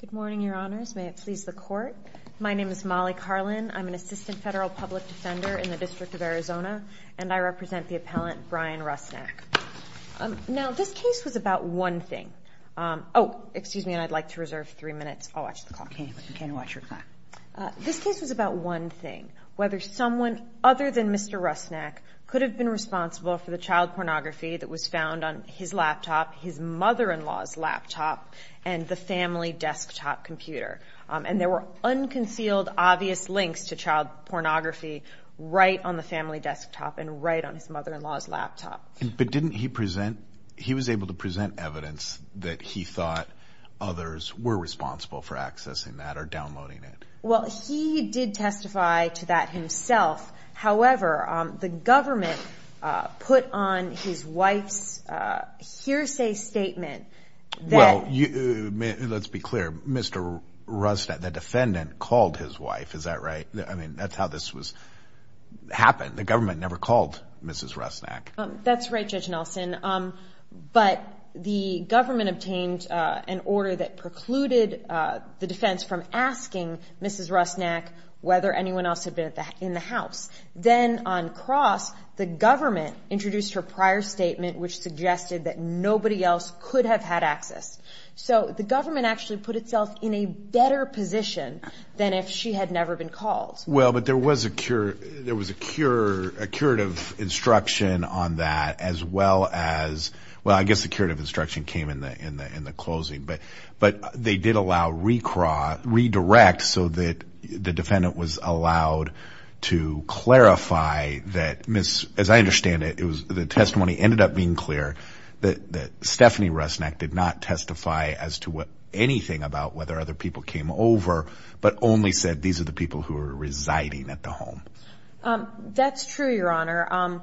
Good morning, your honors. May it please the court. My name is Molly Carlin. I'm an assistant federal public defender in the District of Arizona, and I represent the appellant, Bryan Rusnak. Now, this case was about one thing. Oh, excuse me, and I'd like to reserve three minutes. I'll watch the clock. You can watch your clock. This case was about one thing, whether someone other than Mr. Rusnak could have been responsible for the child pornography that was found on his laptop, his mother-in-law's laptop, and the family desktop computer. And there were unconcealed, obvious links to child pornography right on the family desktop and right on his mother-in-law's laptop. But didn't he present, he was able to present evidence that he thought others were responsible for accessing that or downloading it? Well, he did testify to that himself. However, the government put on his wife's hearsay statement that... Well, let's be clear. Mr. Rusnak, the defendant, called his wife. Is that right? I mean, that's how this was happened. The government never called Mrs. Rusnak. That's right, Judge Nelson. But the government obtained an order that precluded the defense from asking Mrs. Rusnak whether anyone else had been in the house. Then on cross, the government introduced her prior statement, which suggested that nobody else could have had access. So the government actually put itself in a better position than if she had never been called. Well, but there was a curative instruction on that, as well as... Well, I guess the curative instruction came in the closing. But they did allow redirect so that the defendant was allowed to clarify that, as I understand it, the testimony ended up being clear that Stephanie Rusnak did not testify as to anything about whether other people came over, but only said these are the people who are residing at the home. That's true, Your Honor.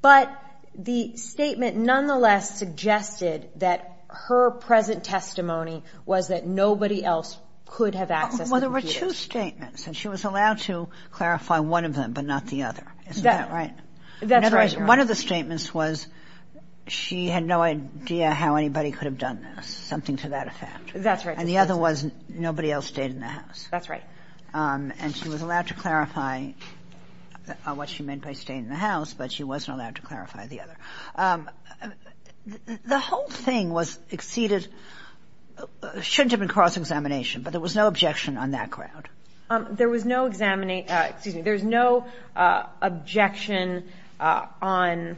But the statement nonetheless suggested that her present testimony was that nobody else could have accessed the computers. Well, there were two statements, and she was allowed to clarify one of them, but not the other. Isn't that right? That's right, Your Honor. In other words, one of the statements was she had no idea how anybody could have done this, something to that effect. That's right. And the other was nobody else stayed in the house. That's right. And she was allowed to clarify what she meant by staying in the house, but she wasn't allowed to clarify the other. The whole thing was exceeded... Shouldn't have been cross-examination, but there was no objection on that ground. There was no examine... Excuse me. There's no objection on...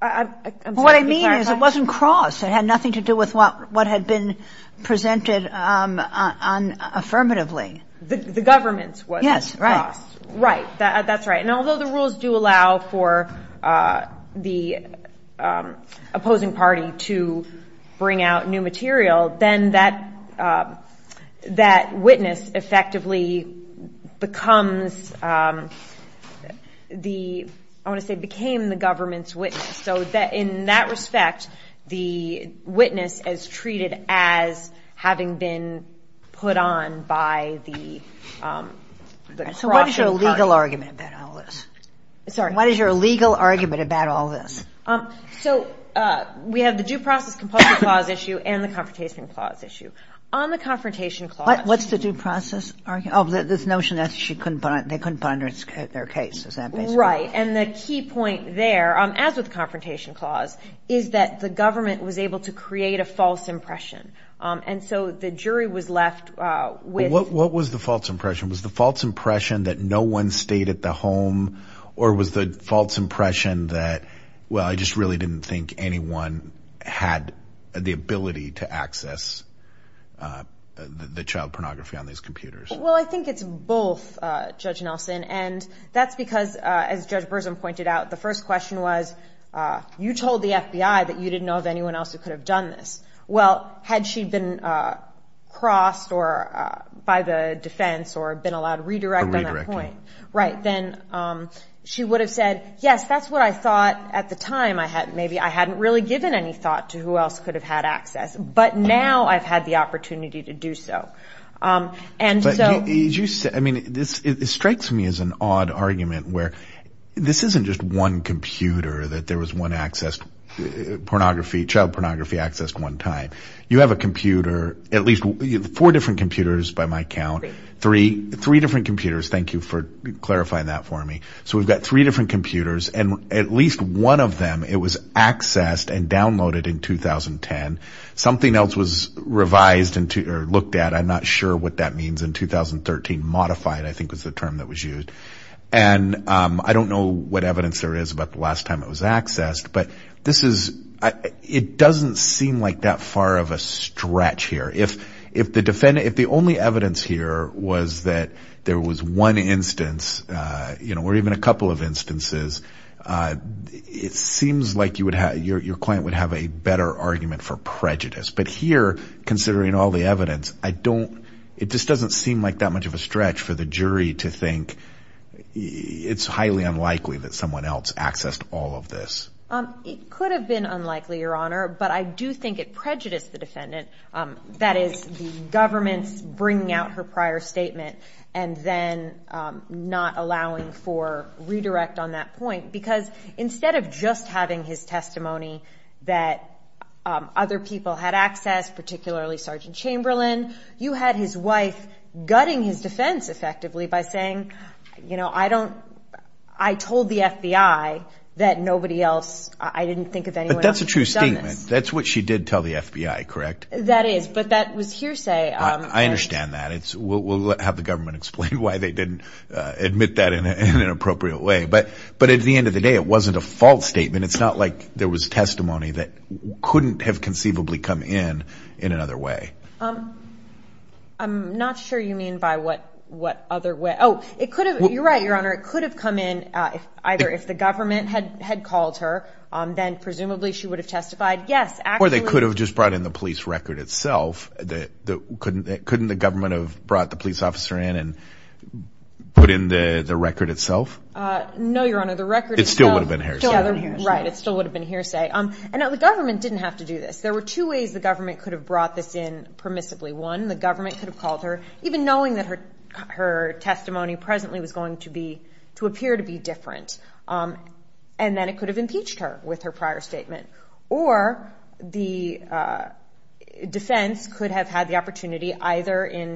I'm sorry to be clarifying. What I mean is it wasn't crossed. It had nothing to do with what had been presented affirmatively. The government was crossed. Yes, right. Right. That's right. And although the rules do allow for the opposing party to bring out new material, then that witness effectively becomes the... I want to say became the government's witness. So in that respect, the witness is treated as having been put on by the cross-examination. So what is your legal argument about all this? Sorry. What is your legal argument about all this? So we have the due process compulsive clause issue and the confrontation clause issue. On the confrontation clause... What's the due process? Oh, this notion that they couldn't find their case. Is that basically... Right. And the key point there, as with the confrontation clause, is that the government was able to create a false impression. And so the jury was left with... What was the false impression? Was the false impression that no one stayed at the home? Or was the false impression that, well, I just really didn't think anyone had the ability to access the child pornography on these computers? Well, I think it's both, Judge Nelson. And that's because, as Judge Burson pointed out, the first question was, you told the FBI that you didn't know of anyone else who could have done this. Well, had she been crossed or by the defense or been allowed to redirect on that point, then she would have said, yes, that's what I thought at the time. Maybe I hadn't really given any thought to who else could have had access. But now I've had the opportunity to do so. And so... It strikes me as an odd argument where this isn't just one computer that there was one access... Child pornography accessed one time. You have a computer, at least four different computers by my count, three different computers. Thank you for clarifying that for me. So we've got three different computers and at least one of them, it was accessed and downloaded in 2010. Something else was revised or looked at. I'm not sure what that means in 2013. Modified, I think was the term that was used. And I don't know what evidence there is about the last time it was accessed, but it doesn't seem like that far of a stretch here. If the only evidence here was that there was one instance or even a couple of instances, it seems like your client would have a better argument for prejudice. But here, considering all the evidence, it just doesn't seem like that much of a stretch for the jury to think it's highly unlikely that someone else accessed all of this. It could have been unlikely, Your Honor, but I do think it prejudiced the defendant. That is, the government's bringing out her prior statement and then not allowing for redirect on that point. Because instead of just having his testimony that other people had access, particularly Sgt. Chamberlain, you had his wife gutting his defense effectively by saying, you know, I told the FBI that nobody else, I didn't think of anyone else who had done this. But that's a true statement. That's what she did tell the FBI, correct? That is, but that was hearsay. I understand that. We'll have the government explain why they didn't admit that in an appropriate way. But at the end of the day, it wasn't a false statement. It's not like there was testimony that couldn't have conceivably come in in another way. I'm not sure you mean by what other way. Oh, it could have. You're right, Your Honor. It could have come in either if the government had called her, then presumably she would have testified. Yes. Or they could have just brought in the police record itself. Couldn't the government have brought the police officer in and put in the record itself? No, Your Honor, the record itself. It still would have been hearsay. Right, it still would have been hearsay. And now the government didn't have to do this. There were two ways the government could have brought this in permissibly. One, the government could have called her, even knowing that her testimony presently was going to appear to be different. And then it could have impeached her with her prior statement. Or the defense could have had the opportunity, either in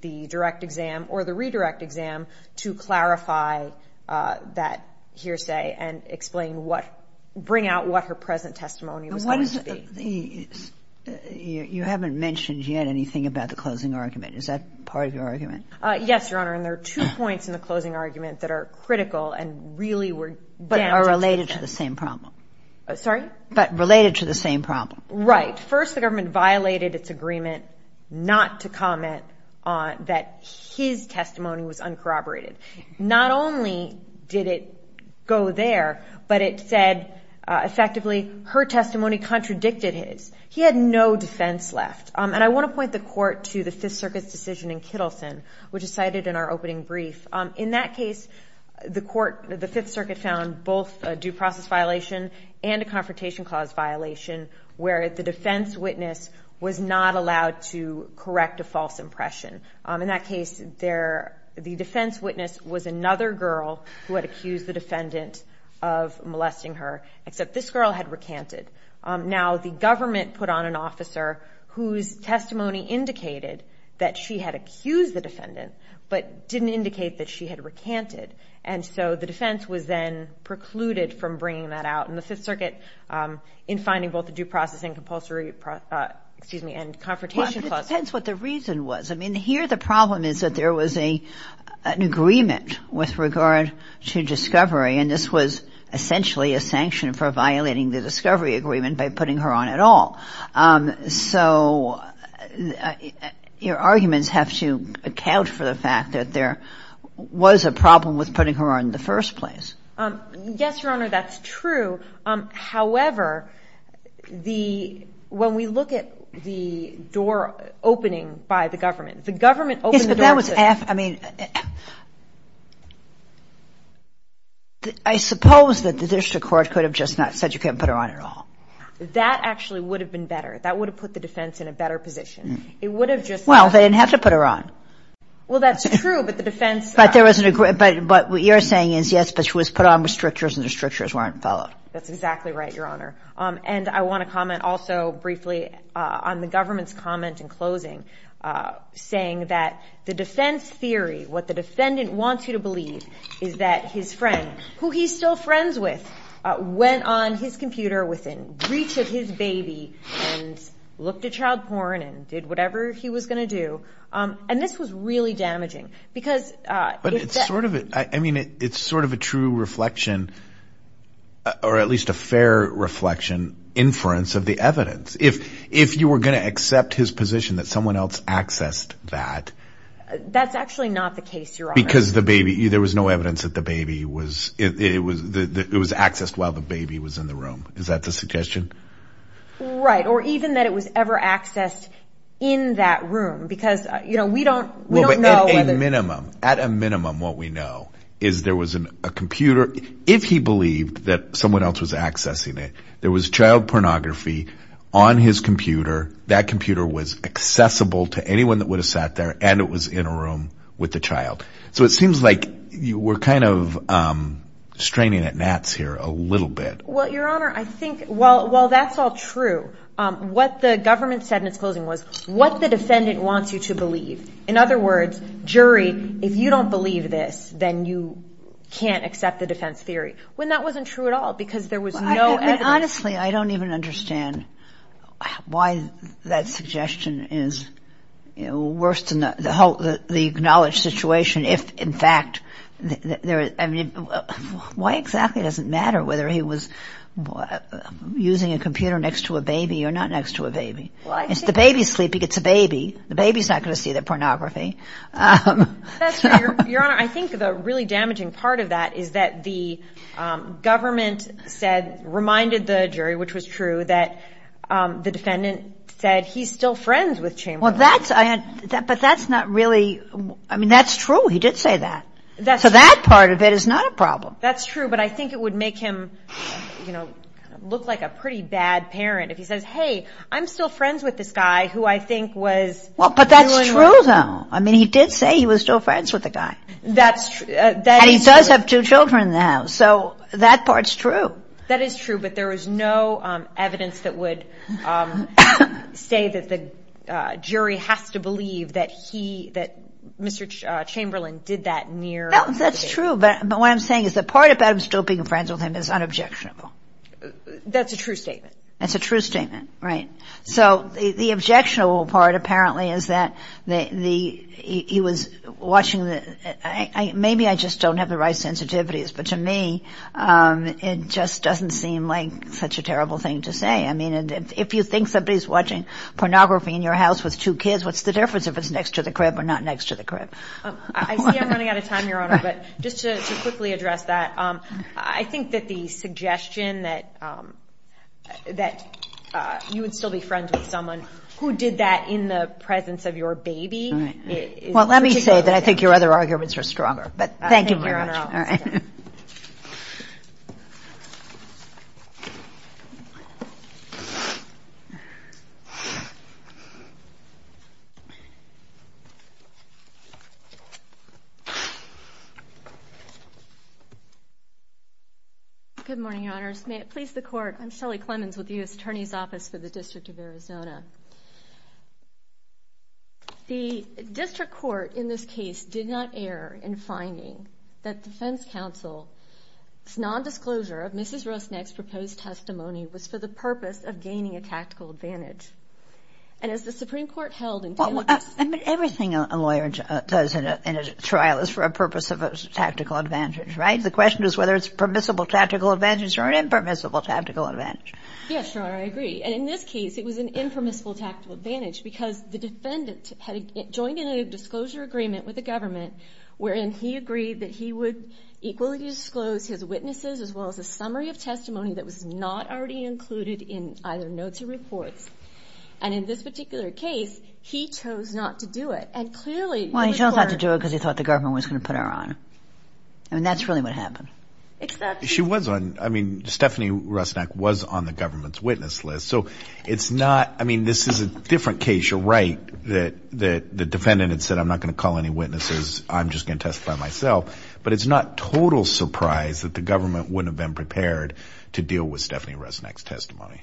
the direct exam or the redirect exam, to clarify that hearsay and explain what, bring out what her present testimony was going to be. You haven't mentioned yet anything about the closing argument. Is that part of your argument? Yes, Your Honor, and there are two points in the closing argument that are critical and really were damaging to the case. But are related to the same problem. Sorry? But related to the same problem. Right. First, the government violated its agreement not to comment that his testimony was uncorroborated. Not only did it go there, but it said, effectively, her testimony contradicted his. He had no defense left. And I want to point the Court to the Fifth Circuit's decision in Kittleson, which is cited in our opening brief. In that case, the Court, the Fifth Circuit found both a due process violation and a confrontation clause violation, where the defense witness was not allowed to correct a false impression. In that case, the defense witness was another girl who had accused the defendant of molesting her, except this girl had recanted. Now, the government put on an officer whose testimony indicated that she had accused the defendant, but didn't indicate that she had recanted. And so the defense was then precluded from bringing that out in the Fifth Circuit in finding both a due process and confrontation clause. Well, it depends what the reason was. I mean, here the problem is that there was an agreement with regard to discovery, and this was essentially a sanction for violating the discovery agreement by putting her on at all. So your arguments have to account for the fact that there was a problem with putting her on in the first place. Yes, Your Honor, that's true. However, when we look at the door opening by the government, the government opened the door to... Yes, but that was... I mean, I suppose that the district court could have just not said you can't put her on at all. That actually would have been better. That would have put the defense in a better position. It would have just... Well, they didn't have to put her on. Well, that's true, but the defense... But what you're saying is, yes, but she was put on with strictures and the strictures weren't followed. That's exactly right, Your Honor. And I want to comment also briefly on the government's comment in closing, saying that the defense theory, what the defendant wants you to believe, is that his friend, who he's still friends with, went on his computer within reach of his baby and looked at child porn and did whatever he was going to do. And this was really damaging because... But it's sort of... I mean, it's sort of a true reflection, or at least a fair reflection, inference of the evidence. If you were going to accept his position that someone else accessed that... That's actually not the case, Your Honor. Because the baby... There was no evidence that the baby was... It was accessed while the baby was in the room. Is that the suggestion? Right. Or even that it was ever accessed in that room because, you know, we don't know... At a minimum. At a minimum, what we know is there was a computer... If he believed that someone else was accessing it, there was child pornography on his computer, that computer was accessible to anyone that would have sat there, and it was in a room with the child. So it seems like you were kind of straining at gnats here a little bit. Well, Your Honor, I think... While that's all true, what the government said in its closing was, what the defendant wants you to believe. In other words, jury, if you don't believe this, then you can't accept the defense theory, when that wasn't true at all because there was no evidence. Honestly, I don't even understand why that suggestion is worse than the acknowledged situation if, in fact, there is... I mean, why exactly does it matter whether he was using a computer next to a baby or not next to a baby? If the baby's sleeping, it's a baby. The baby's not going to see the pornography. That's true, Your Honor. I think the really damaging part of that is that the government said, reminded the jury, which was true, that the defendant said he's still friends with Chamberlain. Well, that's... But that's not really... I mean, that's true. He did say that. So that part of it is not a problem. That's true, but I think it would make him, you know, look like a pretty bad parent if he says, hey, I'm still friends with this guy who I think was... Well, but that's true, though. I mean, he did say he was still friends with the guy. That's true. And he does have two children now, so that part's true. That is true, but there was no evidence that would say that the jury has to believe that he, that Mr. Chamberlain did that near the baby. That's true, but what I'm saying is the part about him still being friends with him is unobjectionable. That's a true statement. That's a true statement, right. So the objectionable part apparently is that he was watching the... Maybe I just don't have the right sensitivities, but to me it just doesn't seem like such a terrible thing to say. I mean, if you think somebody's watching pornography in your house with two kids, what's the difference if it's next to the crib or not next to the crib? I see I'm running out of time, Your Honor, but just to quickly address that, I think that the suggestion that you would still be friends with someone who did that in the presence of your baby is... Well, let me say that I think your other arguments are stronger, but thank you very much. Thank you, Your Honor. All right. Good morning, Your Honors. May it please the Court, I'm Shelley Clemens with the U.S. Attorney's Office for the District of Arizona. The district court in this case did not err in finding that defense counsel's nondisclosure of Mrs. Rosneck's proposed testimony was for the purpose of gaining a tactical advantage. And as the Supreme Court held in... Everything a lawyer does in a trial is for a purpose of a tactical advantage, right? The question is whether it's permissible tactical advantage or an impermissible tactical advantage. Yes, Your Honor, I agree. And in this case, it was an impermissible tactical advantage because the defendant had joined in a disclosure agreement with the government wherein he agreed that he would equally disclose his witnesses as well as a summary of testimony that was not already included in either notes or reports. And in this particular case, he chose not to do it. And clearly... Well, he chose not to do it because he thought the government was going to put her on. I mean, that's really what happened. She was on... I mean, Stephanie Rosneck was on the government's witness list. So it's not... I mean, this is a different case. You're right that the defendant had said, I'm not going to call any witnesses. I'm just going to testify myself. But it's not total surprise that the government wouldn't have been prepared to deal with Stephanie Rosneck's testimony.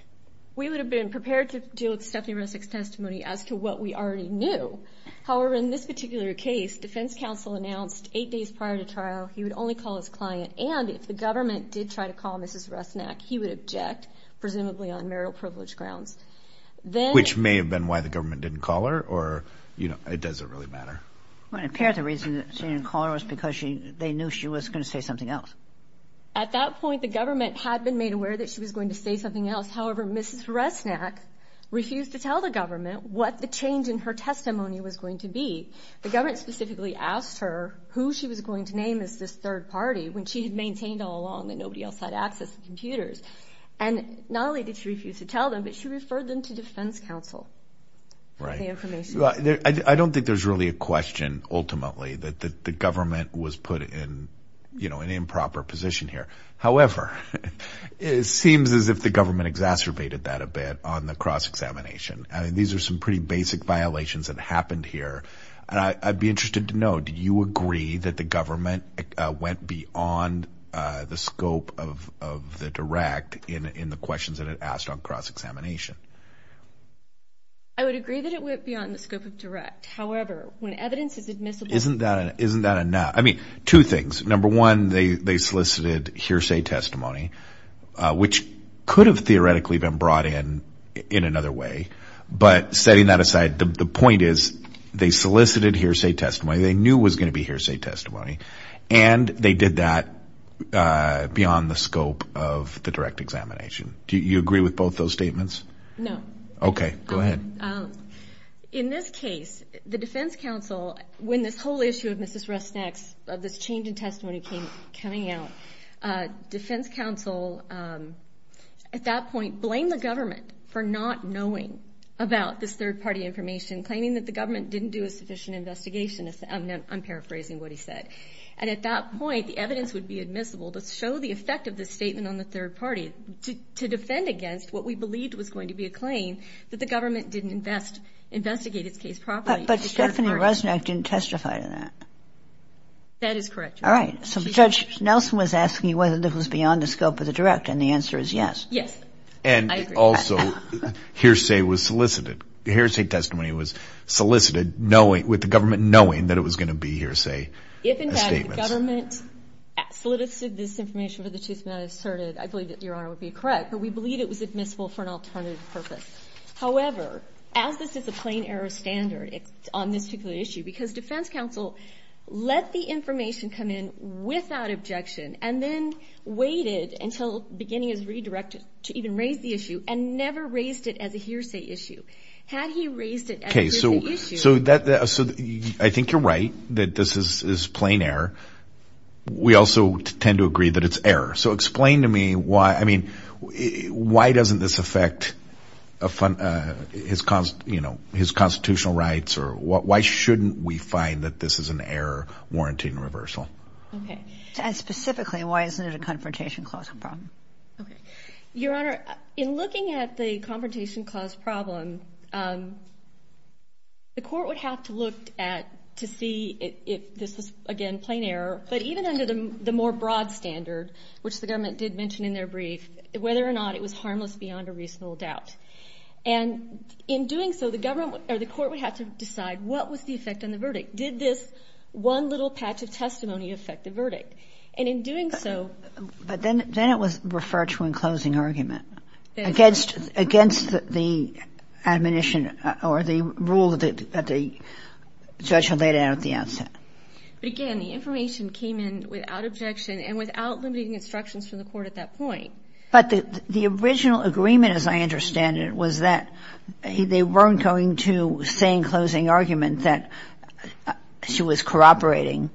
We would have been prepared to deal with Stephanie Rosneck's testimony as to what we already knew. However, in this particular case, defense counsel announced eight days prior to trial he would only call his client. And if the government did try to call Mrs. Rosneck, he would object, presumably on marital privilege grounds. Then... Which may have been why the government didn't call her or, you know, it doesn't really matter. Well, apparently the reason she didn't call her was because they knew she was going to say something else. At that point, the government had been made aware that she was going to say something else. However, Mrs. Rosneck refused to tell the government what the change in her testimony was going to be. The government specifically asked her who she was going to name as this third party when she had maintained all along that nobody else had access to computers. And not only did she refuse to tell them, but she referred them to defense counsel. I don't think there's really a question, ultimately, that the government was put in, you know, an improper position here. However, it seems as if the government exacerbated that a bit on the cross-examination. These are some pretty basic violations that happened here. And I'd be interested to know, do you agree that the government went beyond the scope of the direct in the questions that it asked on cross-examination? I would agree that it went beyond the scope of direct. However, when evidence is admissible... Isn't that enough? I mean, two things. Number one, they solicited hearsay testimony, which could have theoretically been brought in in another way. But setting that aside, the point is they solicited hearsay testimony. They knew it was going to be hearsay testimony. And they did that beyond the scope of the direct examination. Do you agree with both those statements? No. Okay, go ahead. In this case, the defense counsel, when this whole issue of Mrs. Rusneck's, of this change in testimony coming out, defense counsel, at that point, blamed the government for not knowing about this third-party information, claiming that the government didn't do a sufficient investigation. I'm paraphrasing what he said. And at that point, the evidence would be admissible to show the effect of the statement on the third party to defend against what we believed was going to be a claim that the government didn't investigate its case properly. But Stephanie Rusneck didn't testify to that. That is correct. All right. So Judge Nelson was asking whether this was beyond the scope of the direct, and the answer is yes. Yes, I agree. And also, hearsay was solicited. Hearsay testimony was solicited with the government knowing that it was going to be hearsay statements. The government solicited this information for the two statements I asserted. I believe that Your Honor would be correct. But we believe it was admissible for an alternative purpose. However, as this is a plain error standard on this particular issue, because defense counsel let the information come in without objection and then waited until the beginning of the redirect to even raise the issue and never raised it as a hearsay issue. Had he raised it as a hearsay issue. I think you're right that this is plain error. We also tend to agree that it's error. So explain to me why, I mean, why doesn't this affect his constitutional rights or why shouldn't we find that this is an error warranting reversal? And specifically, why isn't it a confrontation clause problem? Your Honor, in looking at the confrontation clause problem, the court would have to look at to see if this was, again, plain error. But even under the more broad standard, which the government did mention in their brief, whether or not it was harmless beyond a reasonable doubt. And in doing so, the court would have to decide what was the effect on the verdict. Did this one little patch of testimony affect the verdict? But then it was referred to in closing argument against the admonition or the rule that the judge had laid out at the outset. But again, the information came in without objection and without limiting instructions from the court at that point. But the original agreement, as I understand it, was that they weren't going to say in closing argument that she was corroborating,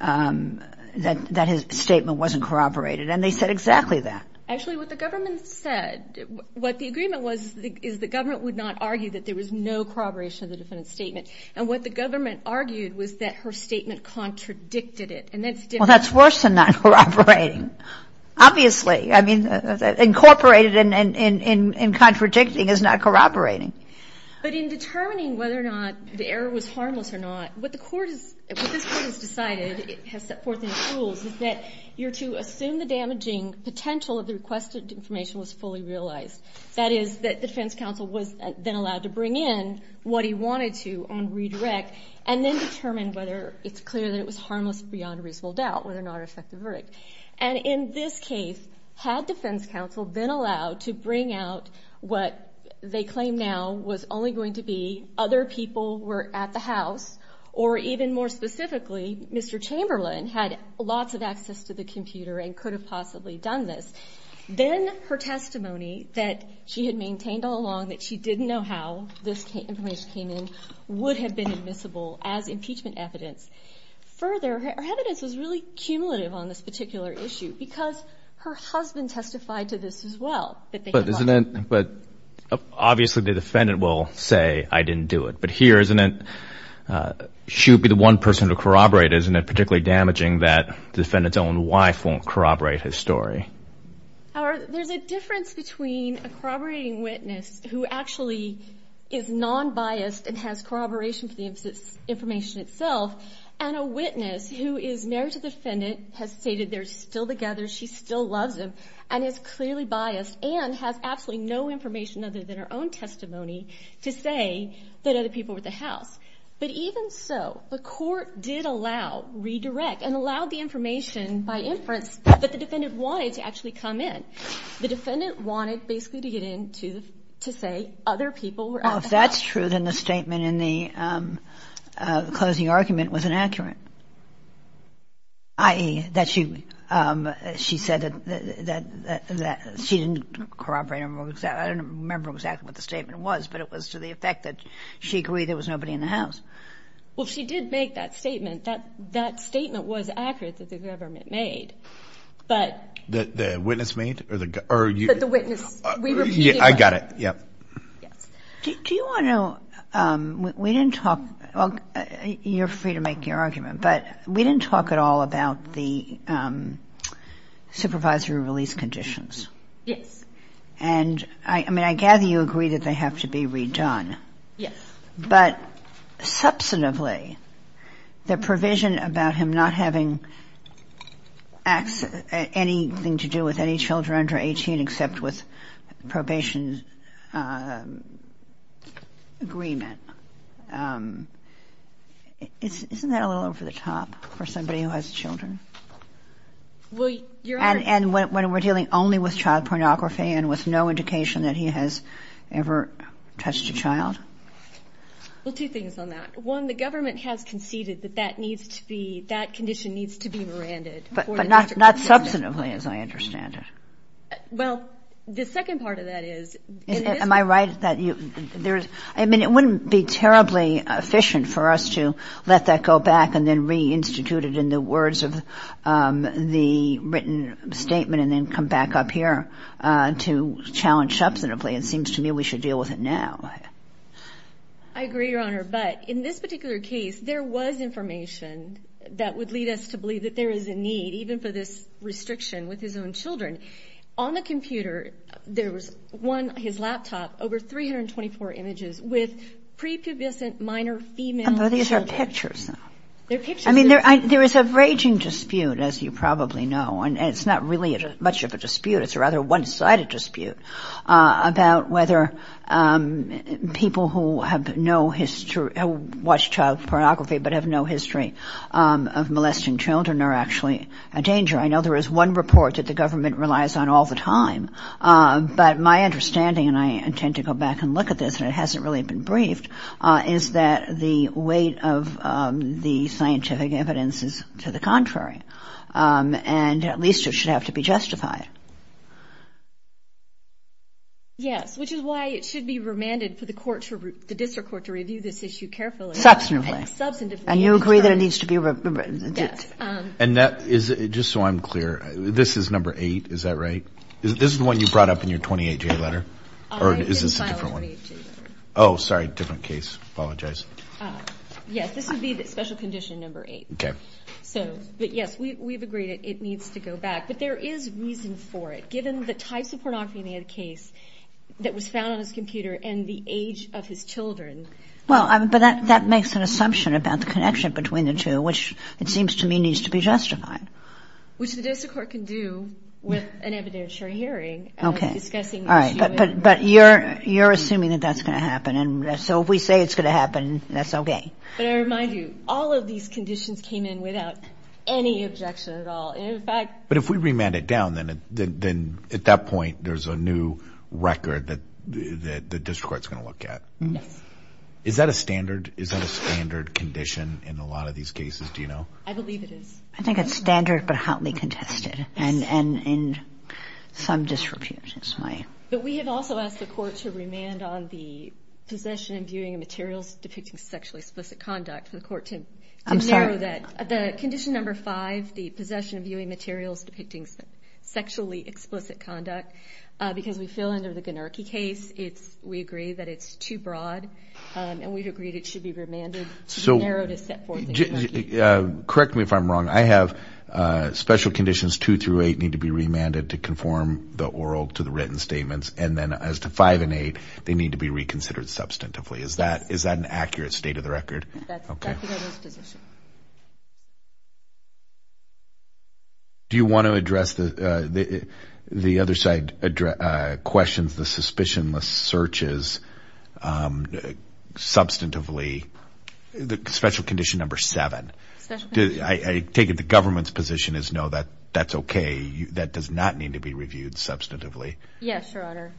that his statement wasn't corroborated. And they said exactly that. Actually, what the government said, what the agreement was is the government would not argue that there was no corroboration of the defendant's statement. And what the government argued was that her statement contradicted it. Well, that's worse than not corroborating. Obviously. I mean, incorporated in contradicting is not corroborating. But in determining whether or not the error was harmless or not, what this court has decided, has set forth in its rules, is that you're to assume the damaging potential of the requested information was fully realized. That is, that defense counsel was then allowed to bring in what he wanted to on redirect and then determine whether it's clear that it was harmless beyond reasonable doubt, whether or not it affected the verdict. And in this case, had defense counsel been allowed to bring out what they claim now was only going to be other people were at the house, or even more specifically, Mr. Chamberlain had lots of access to the computer and could have possibly done this. Then her testimony that she had maintained all along that she didn't know how this information came in would have been admissible as impeachment evidence. Further, her evidence was really cumulative on this particular issue because her husband testified to this as well. But obviously the defendant will say, I didn't do it. But here, she would be the one person to corroborate. Isn't it particularly damaging that the defendant's own wife won't corroborate his story? There's a difference between a corroborating witness who actually is non-biased and has corroboration for the information itself and a witness who is married to the defendant, has stated they're still together, she still loves him, and is clearly biased and has absolutely no information other than her own testimony to say that other people were at the house. But even so, the court did allow, redirect, and allowed the information by inference that the defendant wanted to actually come in. The defendant wanted basically to get in to say other people were at the house. Well, if that's true, then the statement in the closing argument was inaccurate, i.e., that she said that she didn't corroborate. I don't remember exactly what the statement was, but it was to the effect that she agreed there was nobody in the house. Well, she did make that statement. That statement was accurate that the government made. The witness made? The witness. I got it. Yes. Do you want to know, we didn't talk, you're free to make your argument, but we didn't talk at all about the supervisory release conditions. Yes. And, I mean, I gather you agree that they have to be redone. Yes. But substantively, the provision about him not having anything to do with any children under 18 except with probation agreement, isn't that a little over the top for somebody who has children? And when we're dealing only with child pornography and with no indication that he has ever touched a child? Well, two things on that. One, the government has conceded that that condition needs to be miranded. But not substantively, as I understand it. Well, the second part of that is. Am I right? I mean, it wouldn't be terribly efficient for us to let that go back and then reinstitute it in the words of the written statement and then come back up here to challenge substantively. It seems to me we should deal with it now. I agree, Your Honor. But in this particular case, there was information that would lead us to believe that there is a need, even for this restriction with his own children. On the computer, there was one, his laptop, over 324 images with prepubescent minor female children. But these are pictures, though. They're pictures. I mean, there is a raging dispute, as you probably know. And it's not really much of a dispute. It's a rather one-sided dispute about whether people who have no history, who watch child pornography but have no history of molesting children are actually a danger. I know there is one report that the government relies on all the time. But my understanding, and I intend to go back and look at this, and it hasn't really been briefed, is that the weight of the scientific evidence is to the contrary. And at least it should have to be justified. Yes, which is why it should be remanded for the court, for the district court to review this issue carefully. Substantively. Substantively. And you agree that it needs to be remanded? Yes. And just so I'm clear, this is number eight, is that right? This is the one you brought up in your 28-J letter? Or is this a different one? It's a file in the 28-J letter. Oh, sorry, different case. Apologize. Yes, this would be the special condition number eight. Okay. But, yes, we've agreed it needs to go back. But there is reason for it. Given the types of pornography in the case that was found on his computer and the age of his children. Well, but that makes an assumption about the connection between the two, which it seems to me needs to be justified. Which the district court can do with an evidentiary hearing. Okay. All right. But you're assuming that that's going to happen. And so if we say it's going to happen, that's okay. But I remind you, all of these conditions came in without any objection at all. In fact ---- But if we remand it down, then at that point there's a new record that the district court is going to look at. Yes. Is that a standard condition in a lot of these cases? Do you know? I believe it is. I think it's standard, but hotly contested. And some disrepute. But we have also asked the court to remand on the possession and viewing of materials depicting sexually explicit conduct. I'm sorry. For the court to narrow that. The condition number five, the possession of viewing materials depicting sexually explicit conduct. Because we feel under the Ganarchy case, we agree that it's too broad. And we've agreed it should be remanded. So correct me if I'm wrong. I have special conditions two through eight need to be remanded to conform the oral to the written statements. And then as to five and eight, they need to be reconsidered substantively. Is that an accurate state of the record? That's the government's position. Do you want to address the other side questions, the suspicionless searches substantively? The special condition number seven. I take it the government's position is no, that's okay. That does not need to be reviewed substantively. Yes, Your Honor.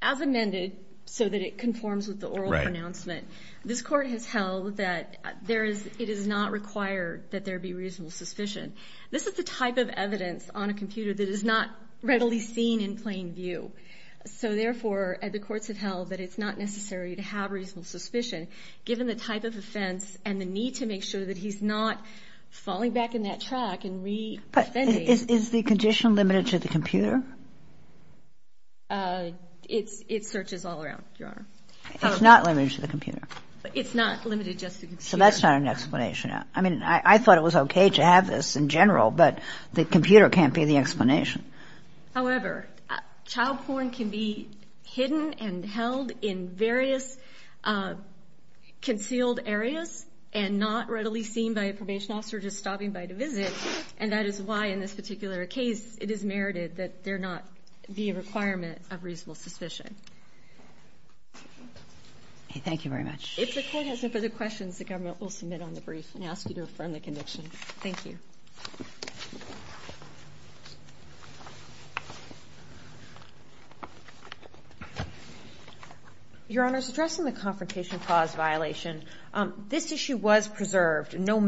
As amended so that it conforms with the oral pronouncement, this court has held that it is not required that there be reasonable suspicion. This is the type of evidence on a computer that is not readily seen in plain view. So, therefore, the courts have held that it's not necessary to have reasonable suspicion, given the type of offense and the need to make sure that he's not falling back in that track and re-offending. Is the condition limited to the computer? It searches all around, Your Honor. It's not limited to the computer. It's not limited just to the computer. So that's not an explanation. I mean, I thought it was okay to have this in general, but the computer can't be the explanation. However, child porn can be hidden and held in various concealed areas and not readily seen by a probation officer just stopping by to visit, and that is why, in this particular case, it is merited that there not be a requirement of reasonable suspicion. Okay. Thank you very much. If the Court has no further questions, the government will submit on the brief and ask you to affirm the conviction. Thank you. Your Honor, addressing the confrontation clause violation, this issue was preserved. The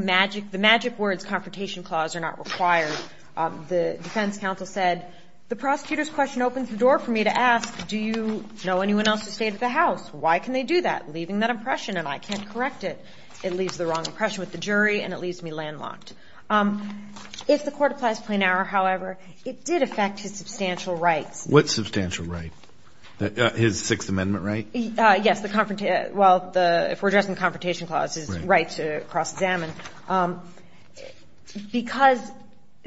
magic words, confrontation clause, are not required. The defense counsel said, the prosecutor's question opens the door for me to ask, do you know anyone else who stayed at the house? Why can they do that? Leaving that impression, and I can't correct it. It leaves the wrong impression with the jury, and it leaves me landlocked. If the Court applies plain error, however, it did affect his substantial rights. What substantial right? His Sixth Amendment right? Yes. Well, if we're addressing the confrontation clause, his right to cross-examine, because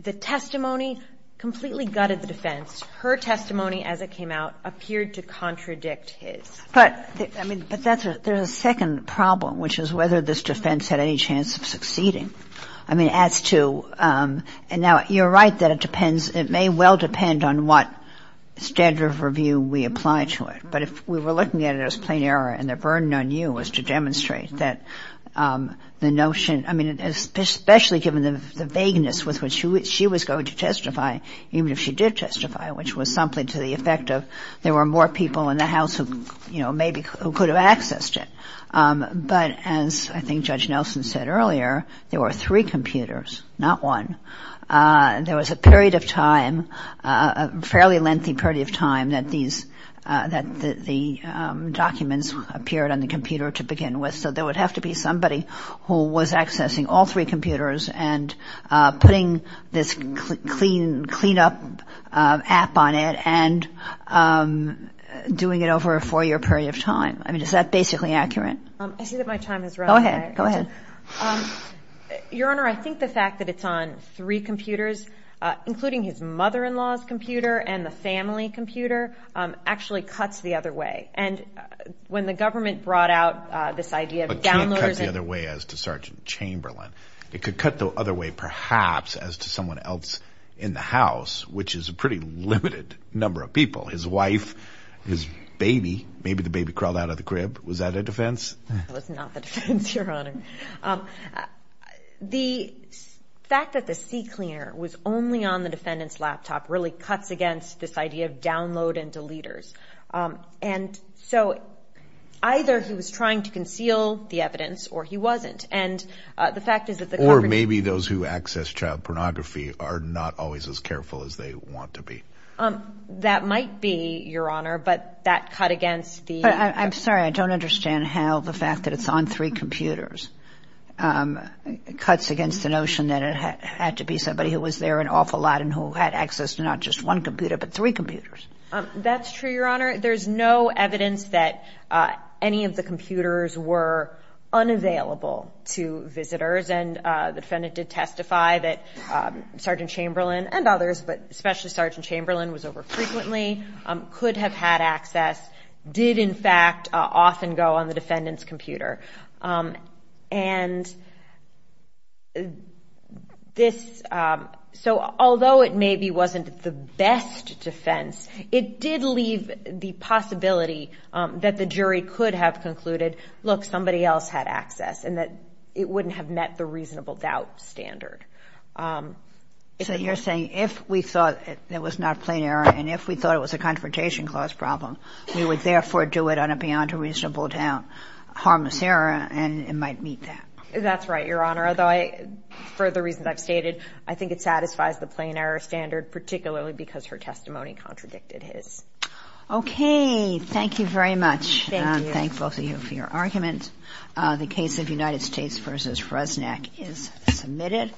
the testimony completely gutted the defense, her testimony as it came out appeared to contradict his. But there's a second problem, which is whether this defense had any chance of succeeding. I mean, as to — and now, you're right that it depends — it may well depend on what standard of review we apply to it. But if we were looking at it as plain error, and the burden on you was to demonstrate that the notion — I mean, especially given the vagueness with which she was going to testify, even if she did testify, which was something to the effect of there were more people in the house who, you know, maybe could have accessed it. But as I think Judge Nelson said earlier, there were three computers, not one. There was a period of time, a fairly lengthy period of time, that the documents appeared on the computer to begin with. So there would have to be somebody who was accessing all three computers and putting this clean-up app on it and doing it over a four-year period of time. I mean, is that basically accurate? I see that my time has run out. Go ahead. Go ahead. Your Honor, I think the fact that it's on three computers, including his mother-in-law's computer and the family computer, actually cuts the other way. And when the government brought out this idea of downloaders — But it can't cut the other way as to Sergeant Chamberlain. It could cut the other way, perhaps, as to someone else in the house, which is a pretty limited number of people — his wife, his baby. Maybe the baby crawled out of the crib. Was that a defense? That was not the defense, Your Honor. The fact that the CCleaner was only on the defendant's laptop really cuts against this idea of download and deleters. And so either he was trying to conceal the evidence or he wasn't. And the fact is that the government — Or maybe those who access child pornography are not always as careful as they want to be. I'm sorry. I don't understand how the fact that it's on three computers cuts against the notion that it had to be somebody who was there an awful lot and who had access to not just one computer but three computers. That's true, Your Honor. There's no evidence that any of the computers were unavailable to visitors. And the defendant did testify that Sergeant Chamberlain and others, but especially Sergeant Chamberlain, was over-frequently, could have had access, did, in fact, often go on the defendant's computer. So although it maybe wasn't the best defense, it did leave the possibility that the jury could have concluded, look, somebody else had access, and that it wouldn't have met the reasonable doubt standard. So you're saying if we thought it was not plain error and if we thought it was a confrontation clause problem, we would therefore do it on a beyond a reasonable doubt harmless error and it might meet that. That's right, Your Honor. Although for the reasons I've stated, I think it satisfies the plain error standard, particularly because her testimony contradicted his. Okay. Thank you very much. Thank you. I'm thankful for your argument. The case of United States v. Fresnac is submitted.